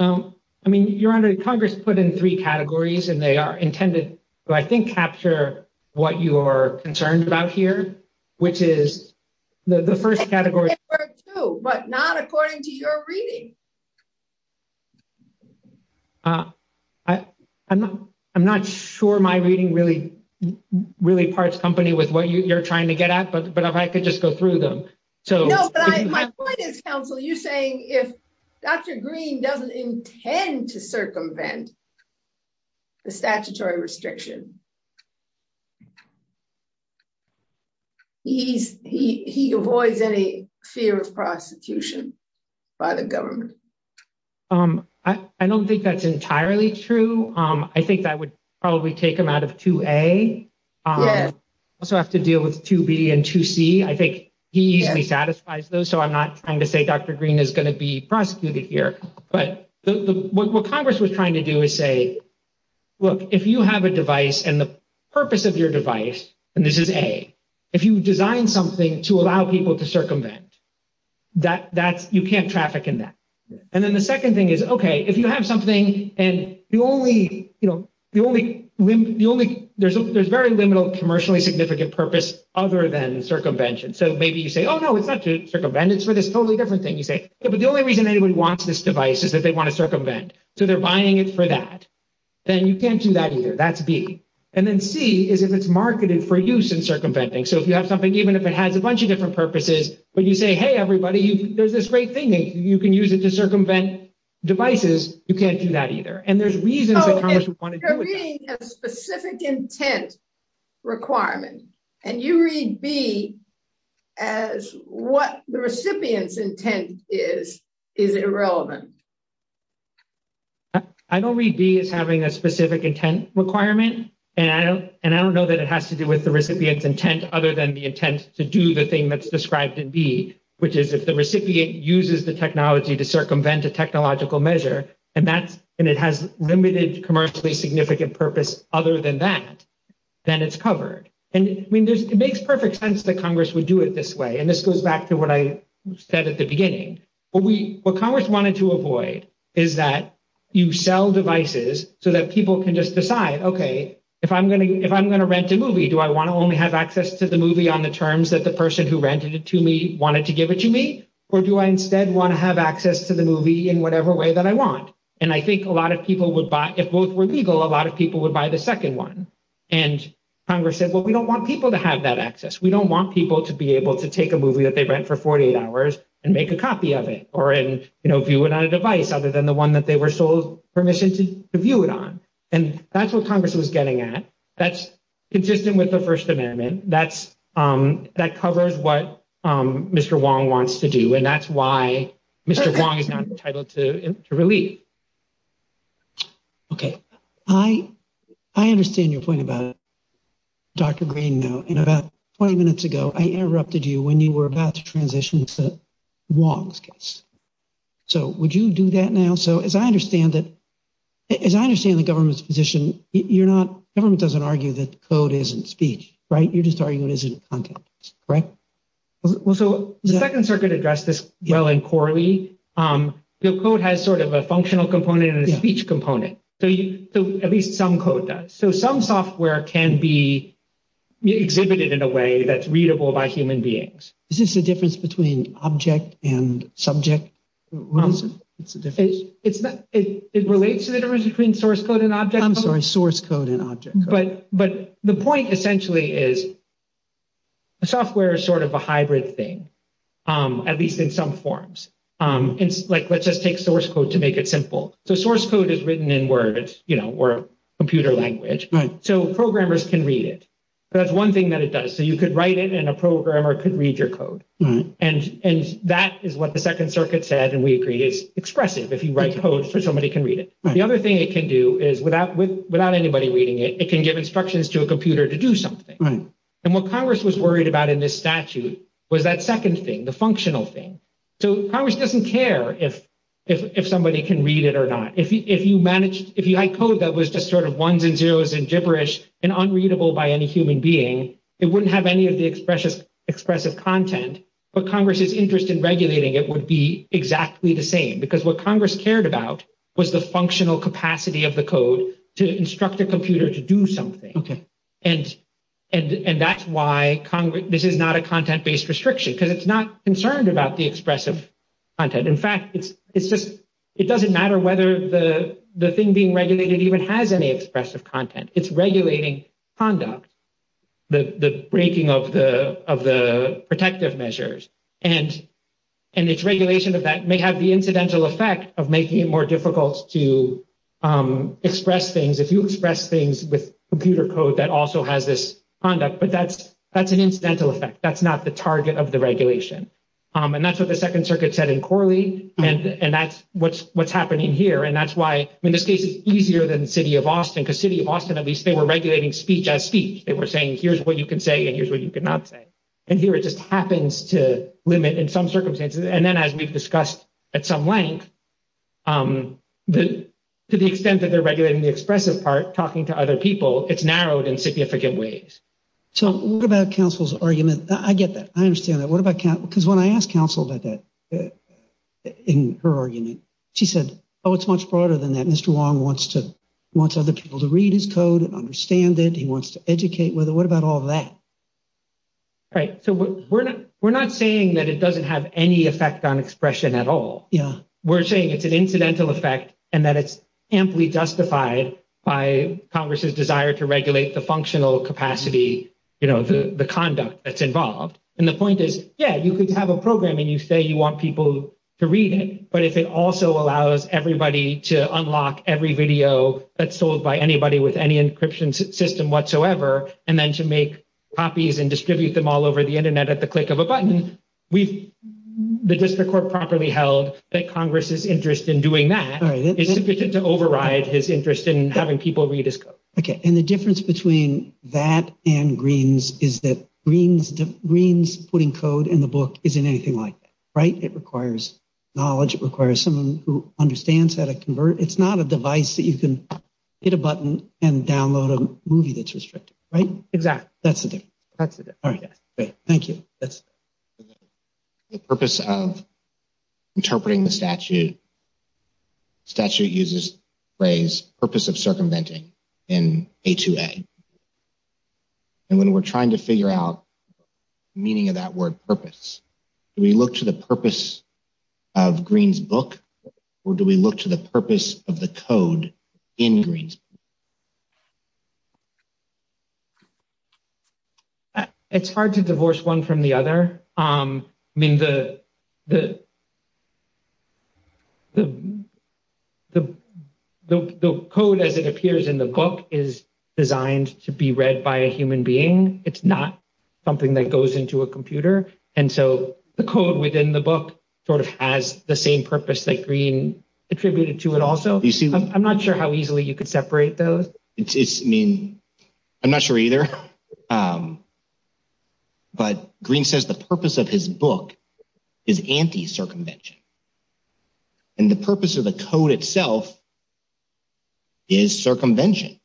I mean, you're under Congress put in three categories and they are intended to, I think, capture what you are concerned about here, which is the first category, but not according to your reading. I, I'm not, I'm not sure my reading really, really parts company with what you're trying to get at, but but if I could just go through them. So, you're saying if Dr. Green doesn't intend to circumvent. The statutory restriction. He's he he avoids any fear of prosecution by the government. I don't think that's entirely true. I think that would probably take them out of to a. So, I have to deal with 2B and 2C. I think he easily satisfies those. So, I'm not trying to say Dr. Green is going to be prosecuted here. But what Congress was trying to do is say, look, if you have a device and the purpose of your device, and this is a, if you design something to allow people to circumvent. That that's you can't traffic in that. And then the 2nd thing is, okay, if you have something, and the only, you know, the only, the only, there's a, there's very limited commercially significant purpose other than circumvention. So, maybe you say, oh, no, it's not to circumvent. It's for this totally different thing. You say, but the only reason anybody wants this device is that they want to circumvent. So, they're buying it for that. Then you can't do that either. That's B. And then C is if it's marketed for use in circumventing. So, if you have something, even if it has a bunch of different purposes, but you say, hey, everybody, there's this great thing that you can use it to circumvent devices, you can't do that either. And there's reasons that Congress would want to do it. So, if you're reading a specific intent requirement, and you read B as what the recipient's intent is, is it irrelevant? I don't read B as having a specific intent requirement, and I don't know that it has to do with the recipient's intent other than the intent to do the thing that's described in B, which is if the recipient uses the technology to circumvent a technological measure, and that's, and it has limited commercially significant purpose other than that, then it's covered. And, I mean, it makes perfect sense that Congress would do it this way. And this goes back to what I said at the beginning. What Congress wanted to avoid is that you sell devices so that people can just decide, okay, if I'm going to rent a movie, do I want to only have access to the movie on the terms that the person who rented it to me wanted to give it to me? Or do I instead want to have access to the movie in whatever way that I want? And I think a lot of people would buy, if both were legal, a lot of people would buy the second one. And Congress said, well, we don't want people to have that access. We don't want people to be able to take a movie that they rent for 48 hours and make a copy of it or view it on a device other than the one that they were sold permission to view it on. And that's what Congress was getting at. That's consistent with the First Amendment. That covers what Mr. Wong wants to do, and that's why Mr. Wong is not entitled to relief. Okay, I understand your point about Dr. Green now. And about 20 minutes ago, I interrupted you when you were about to transition to Wong's case. So would you do that now? So as I understand that, as I understand the government's position, you're not, government doesn't argue that code isn't speech, right? You're just arguing it isn't content, right? Well, so the Second Circuit addressed this well in Corley. The code has sort of a functional component and a speech component. So at least some code does. So some software can be exhibited in a way that's readable by human beings. Is this a difference between object and subject? It relates to the difference between source code and object. I'm sorry, source code and object. But the point essentially is software is sort of a hybrid thing, at least in some forms. It's like, let's just take source code to make it simple. So source code is written in words, you know, or computer language. So programmers can read it. That's one thing that it does. So you could write it and a programmer could read your code. And that is what the Second Circuit said, and we agree, is expressive. If you write code, somebody can read it. The other thing it can do is without anybody reading it, it can give instructions to a computer to do something. And what Congress was worried about in this statute was that second thing, the functional thing. So Congress doesn't care if somebody can read it or not. If you write code that was just sort of ones and zeros and gibberish and unreadable by any human being, it wouldn't have any of the expressive content. But Congress's interest in regulating it would be exactly the same, because what Congress cared about was the functional capacity of the code to instruct a computer to do something. And that's why this is not a content-based restriction, because it's not concerned about the expressive content. In fact, it's just it doesn't matter whether the thing being regulated even has any expressive content. It's regulating conduct, the breaking of the protective measures. And its regulation of that may have the incidental effect of making it more difficult to express things. If you express things with computer code, that also has this conduct, but that's an incidental effect. That's not the target of the regulation. And that's what the Second Circuit said in Corley, and that's what's happening here. And that's why, in this case, it's easier than the city of Austin, because city of Austin, at least, they were regulating speech as speech. They were saying, here's what you can say and here's what you cannot say. And here it just happens to limit in some circumstances. And then, as we've discussed at some length, to the extent that they're regulating the expressive part, talking to other people, it's narrowed in significant ways. So what about counsel's argument? I get that. I understand that. What about counsel? Because when I asked counsel about that in her argument, she said, oh, it's much broader than that. Mr. Wong wants to want other people to read his code and understand it. He wants to educate with it. What about all that? Right. So we're not we're not saying that it doesn't have any effect on expression at all. We're saying it's an incidental effect and that it's amply justified by Congress's desire to regulate the functional capacity, the conduct that's involved. And the point is, yeah, you could have a program and you say you want people to read it. But if it also allows everybody to unlock every video that's sold by anybody with any encryption system whatsoever, and then to make copies and distribute them all over the Internet at the click of a button, the district court properly held that Congress's interest in doing that is sufficient to override his interest in having people read his code. OK. And the difference between that and Green's is that Green's putting code in the book isn't anything like that. Right. It requires knowledge. It requires someone who understands how to convert. It's not a device that you can hit a button and download a movie that's restricted. Right. Exactly. That's it. That's it. All right. Thank you. That's the purpose of interpreting the statute. Statute uses phrase purpose of circumventing in a two day. And when we're trying to figure out meaning of that word purpose, we look to the purpose of Green's book. Or do we look to the purpose of the code in Green's? It's hard to divorce one from the other. I mean, the. The code, as it appears in the book, is designed to be read by a human being. It's not something that goes into a computer. And so the code within the book sort of has the same purpose that Green attributed to it. Also, you see, I'm not sure how easily you could separate those. I mean, I'm not sure either. But Green says the purpose of his book is anti circumvention. And the purpose of the code itself. Is circumvention.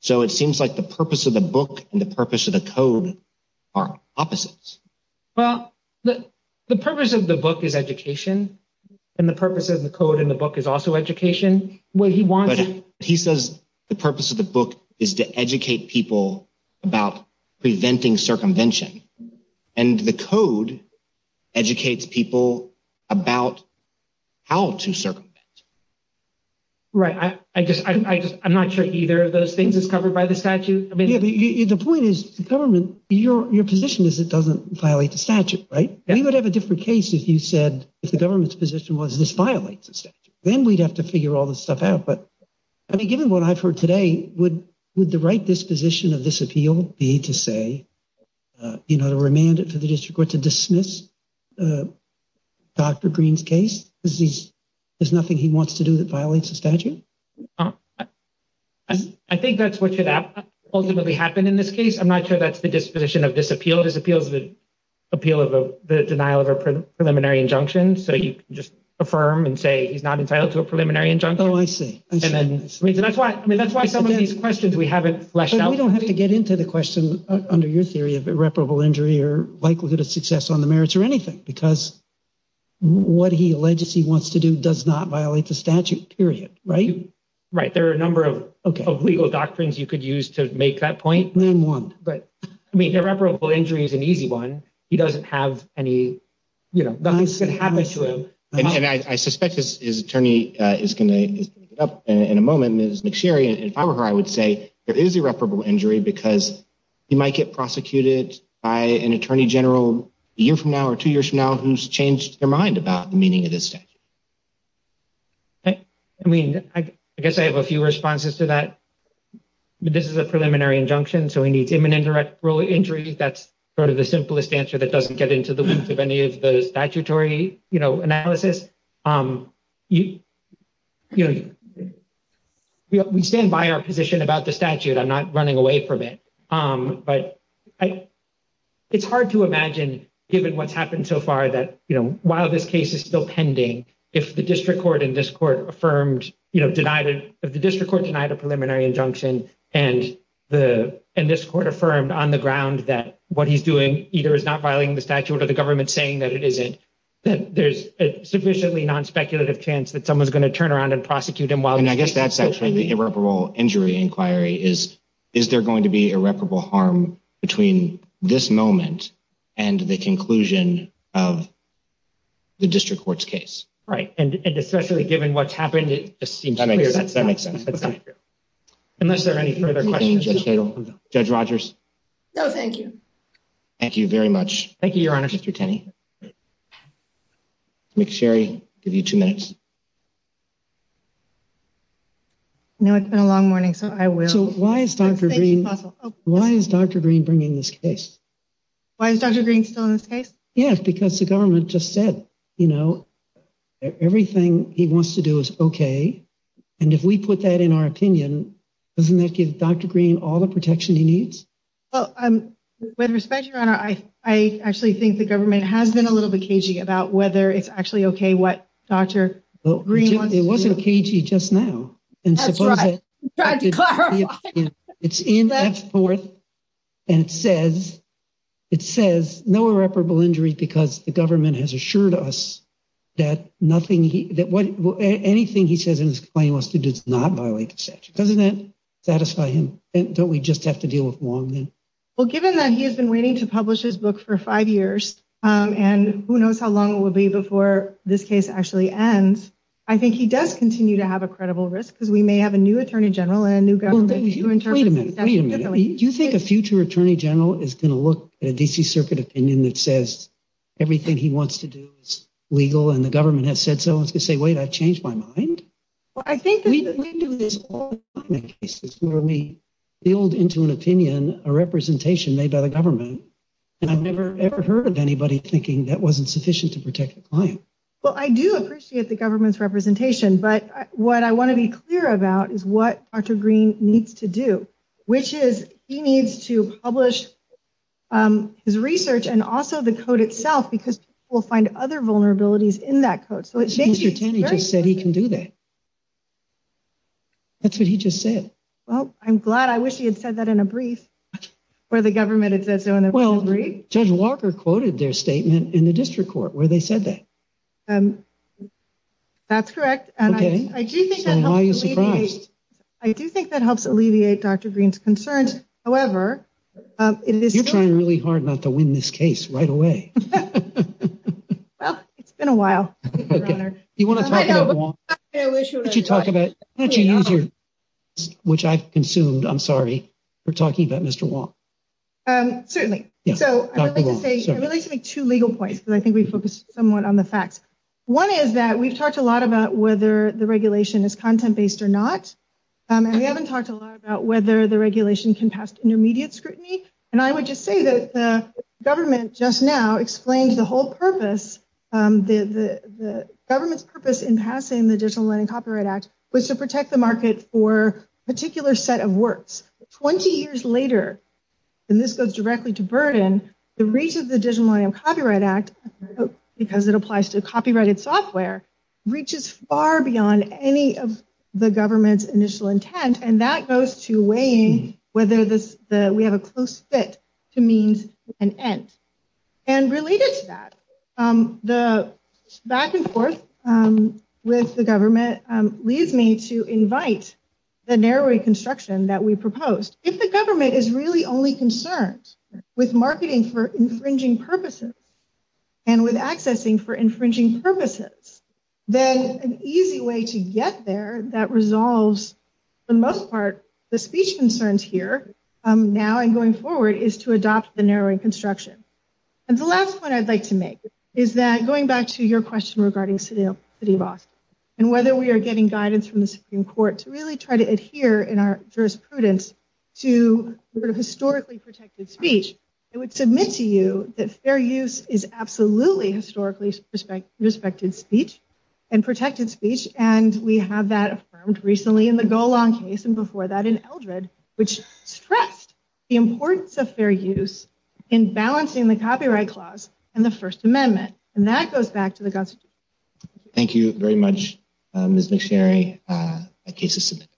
So it seems like the purpose of the book and the purpose of the code are opposites. Well, the purpose of the book is education and the purpose of the code in the book is also education. He says the purpose of the book is to educate people about preventing circumvention. And the code educates people about how to circumvent. Right. I just I'm not sure either of those things is covered by the statute. The point is the government, your position is it doesn't violate the statute. Right. We would have a different case if you said if the government's position was this violates the statute, then we'd have to figure all this stuff out. But I mean, given what I've heard today, would would the right disposition of this appeal be to say, you know, to remand it to the district court to dismiss Dr. Green's case? There's nothing he wants to do that violates the statute. I think that's what should ultimately happen in this case. I'm not sure that's the disposition of this appeal. This appeal is the appeal of the denial of a preliminary injunction. So you just affirm and say he's not entitled to a preliminary injunction. Oh, I see. And then that's why I mean, that's why some of these questions we haven't fleshed out. We don't have to get into the question under your theory of irreparable injury or likelihood of success on the merits or anything, because what he alleged he wants to do does not violate the statute. Period. Right. Right. There are a number of legal doctrines you could use to make that point. But I mean, irreparable injury is an easy one. He doesn't have any, you know, nothing's going to happen to him. And I suspect his attorney is going to pick it up in a moment. Ms. McSherry, if I were her, I would say there is irreparable injury because he might get prosecuted by an attorney general a year from now or two years from now who's changed their mind about the meaning of this. I mean, I guess I have a few responses to that. This is a preliminary injunction, so he needs imminent direct injury. That's sort of the simplest answer that doesn't get into the roots of any of the statutory analysis. We stand by our position about the statute. I'm not running away from it. It's hard to imagine, given what's happened so far, that, you know, while this case is still pending, if the district court and this court affirmed, you know, denied it, if the district court denied a preliminary injunction and this court affirmed on the ground that what he's doing either is not violating the statute or the government saying that it isn't, then there's a sufficiently non-speculative chance that someone's going to turn around and prosecute him. And I guess that's actually the irreparable injury inquiry is, is there going to be irreparable harm between this moment and the conclusion of the district court's case? Right. And especially given what's happened, it just seems clear that's not true. Unless there are any further questions. Judge Rogers? No, thank you. Thank you very much, Mr. Tenney. Ms. Sherry, I'll give you two minutes. No, it's been a long morning, so I will. So why is Dr. Green bringing this case? Why is Dr. Green still in this case? Yeah, because the government just said, you know, everything he wants to do is okay. And if we put that in our opinion, doesn't that give Dr. Green all the protection he needs? With respect, Your Honor, I actually think the government has been a little bit cagey about whether it's actually okay what Dr. Green wants to do. It wasn't cagey just now. That's right. I'm trying to clarify. It's in F-4 and it says, it says no irreparable injury because the government has assured us that nothing he, that anything he says in his claim wants to do does not violate the statute. Doesn't that satisfy him? Don't we just have to deal with Wong then? Well, given that he has been waiting to publish his book for five years and who knows how long it will be before this case actually ends. I think he does continue to have a credible risk because we may have a new attorney general and a new government. Wait a minute. Wait a minute. Do you think a future attorney general is going to look at a D.C. Circuit opinion that says everything he wants to do is legal and the government has said so? It's going to say, wait, I've changed my mind? We do this all the time in cases where we build into an opinion a representation made by the government and I've never, ever heard of anybody thinking that wasn't sufficient to protect the client. Well, I do appreciate the government's representation, but what I want to be clear about is what Dr. Green needs to do, which is he needs to publish his research and also the code itself because we'll find other vulnerabilities in that code. He just said he can do that. That's what he just said. Well, I'm glad I wish he had said that in a brief where the government had said so. Well, Judge Walker quoted their statement in the district court where they said that. That's correct. And I do think that I do think that helps alleviate Dr. Green's concerns. However, it is trying really hard not to win this case right away. Well, it's been a while. You want to talk about what you talk about? Which I've consumed. I'm sorry. We're talking about Mr. Wong. Certainly. So I would like to make two legal points, but I think we focus somewhat on the facts. One is that we've talked a lot about whether the regulation is content based or not. And we haven't talked a lot about whether the regulation can pass intermediate scrutiny. And I would just say that the government just now explained the whole purpose. The government's purpose in passing the Digital Money and Copyright Act was to protect the market for a particular set of works. Twenty years later, and this goes directly to burden, the reach of the Digital Money and Copyright Act, because it applies to copyrighted software, reaches far beyond any of the government's initial intent. And that goes to weighing whether we have a close fit to means an end. And related to that, the back and forth with the government leads me to invite the narrowing construction that we proposed. If the government is really only concerned with marketing for infringing purposes and with accessing for infringing purposes, then an easy way to get there that resolves for the most part the speech concerns here now and going forward is to adopt the narrowing construction. And the last point I'd like to make is that going back to your question regarding the City of Austin and whether we are getting guidance from the Supreme Court to really try to adhere in our jurisprudence to historically protected speech, I would submit to you that fair use is absolutely historically respected speech and protected speech, and we have that affirmed recently in the Golan case and before that in Eldred, which stressed the importance of fair use in balancing the Copyright Clause and the First Amendment. And that goes back to the Constitution. Thank you very much, Ms. McSherry. The case is submitted.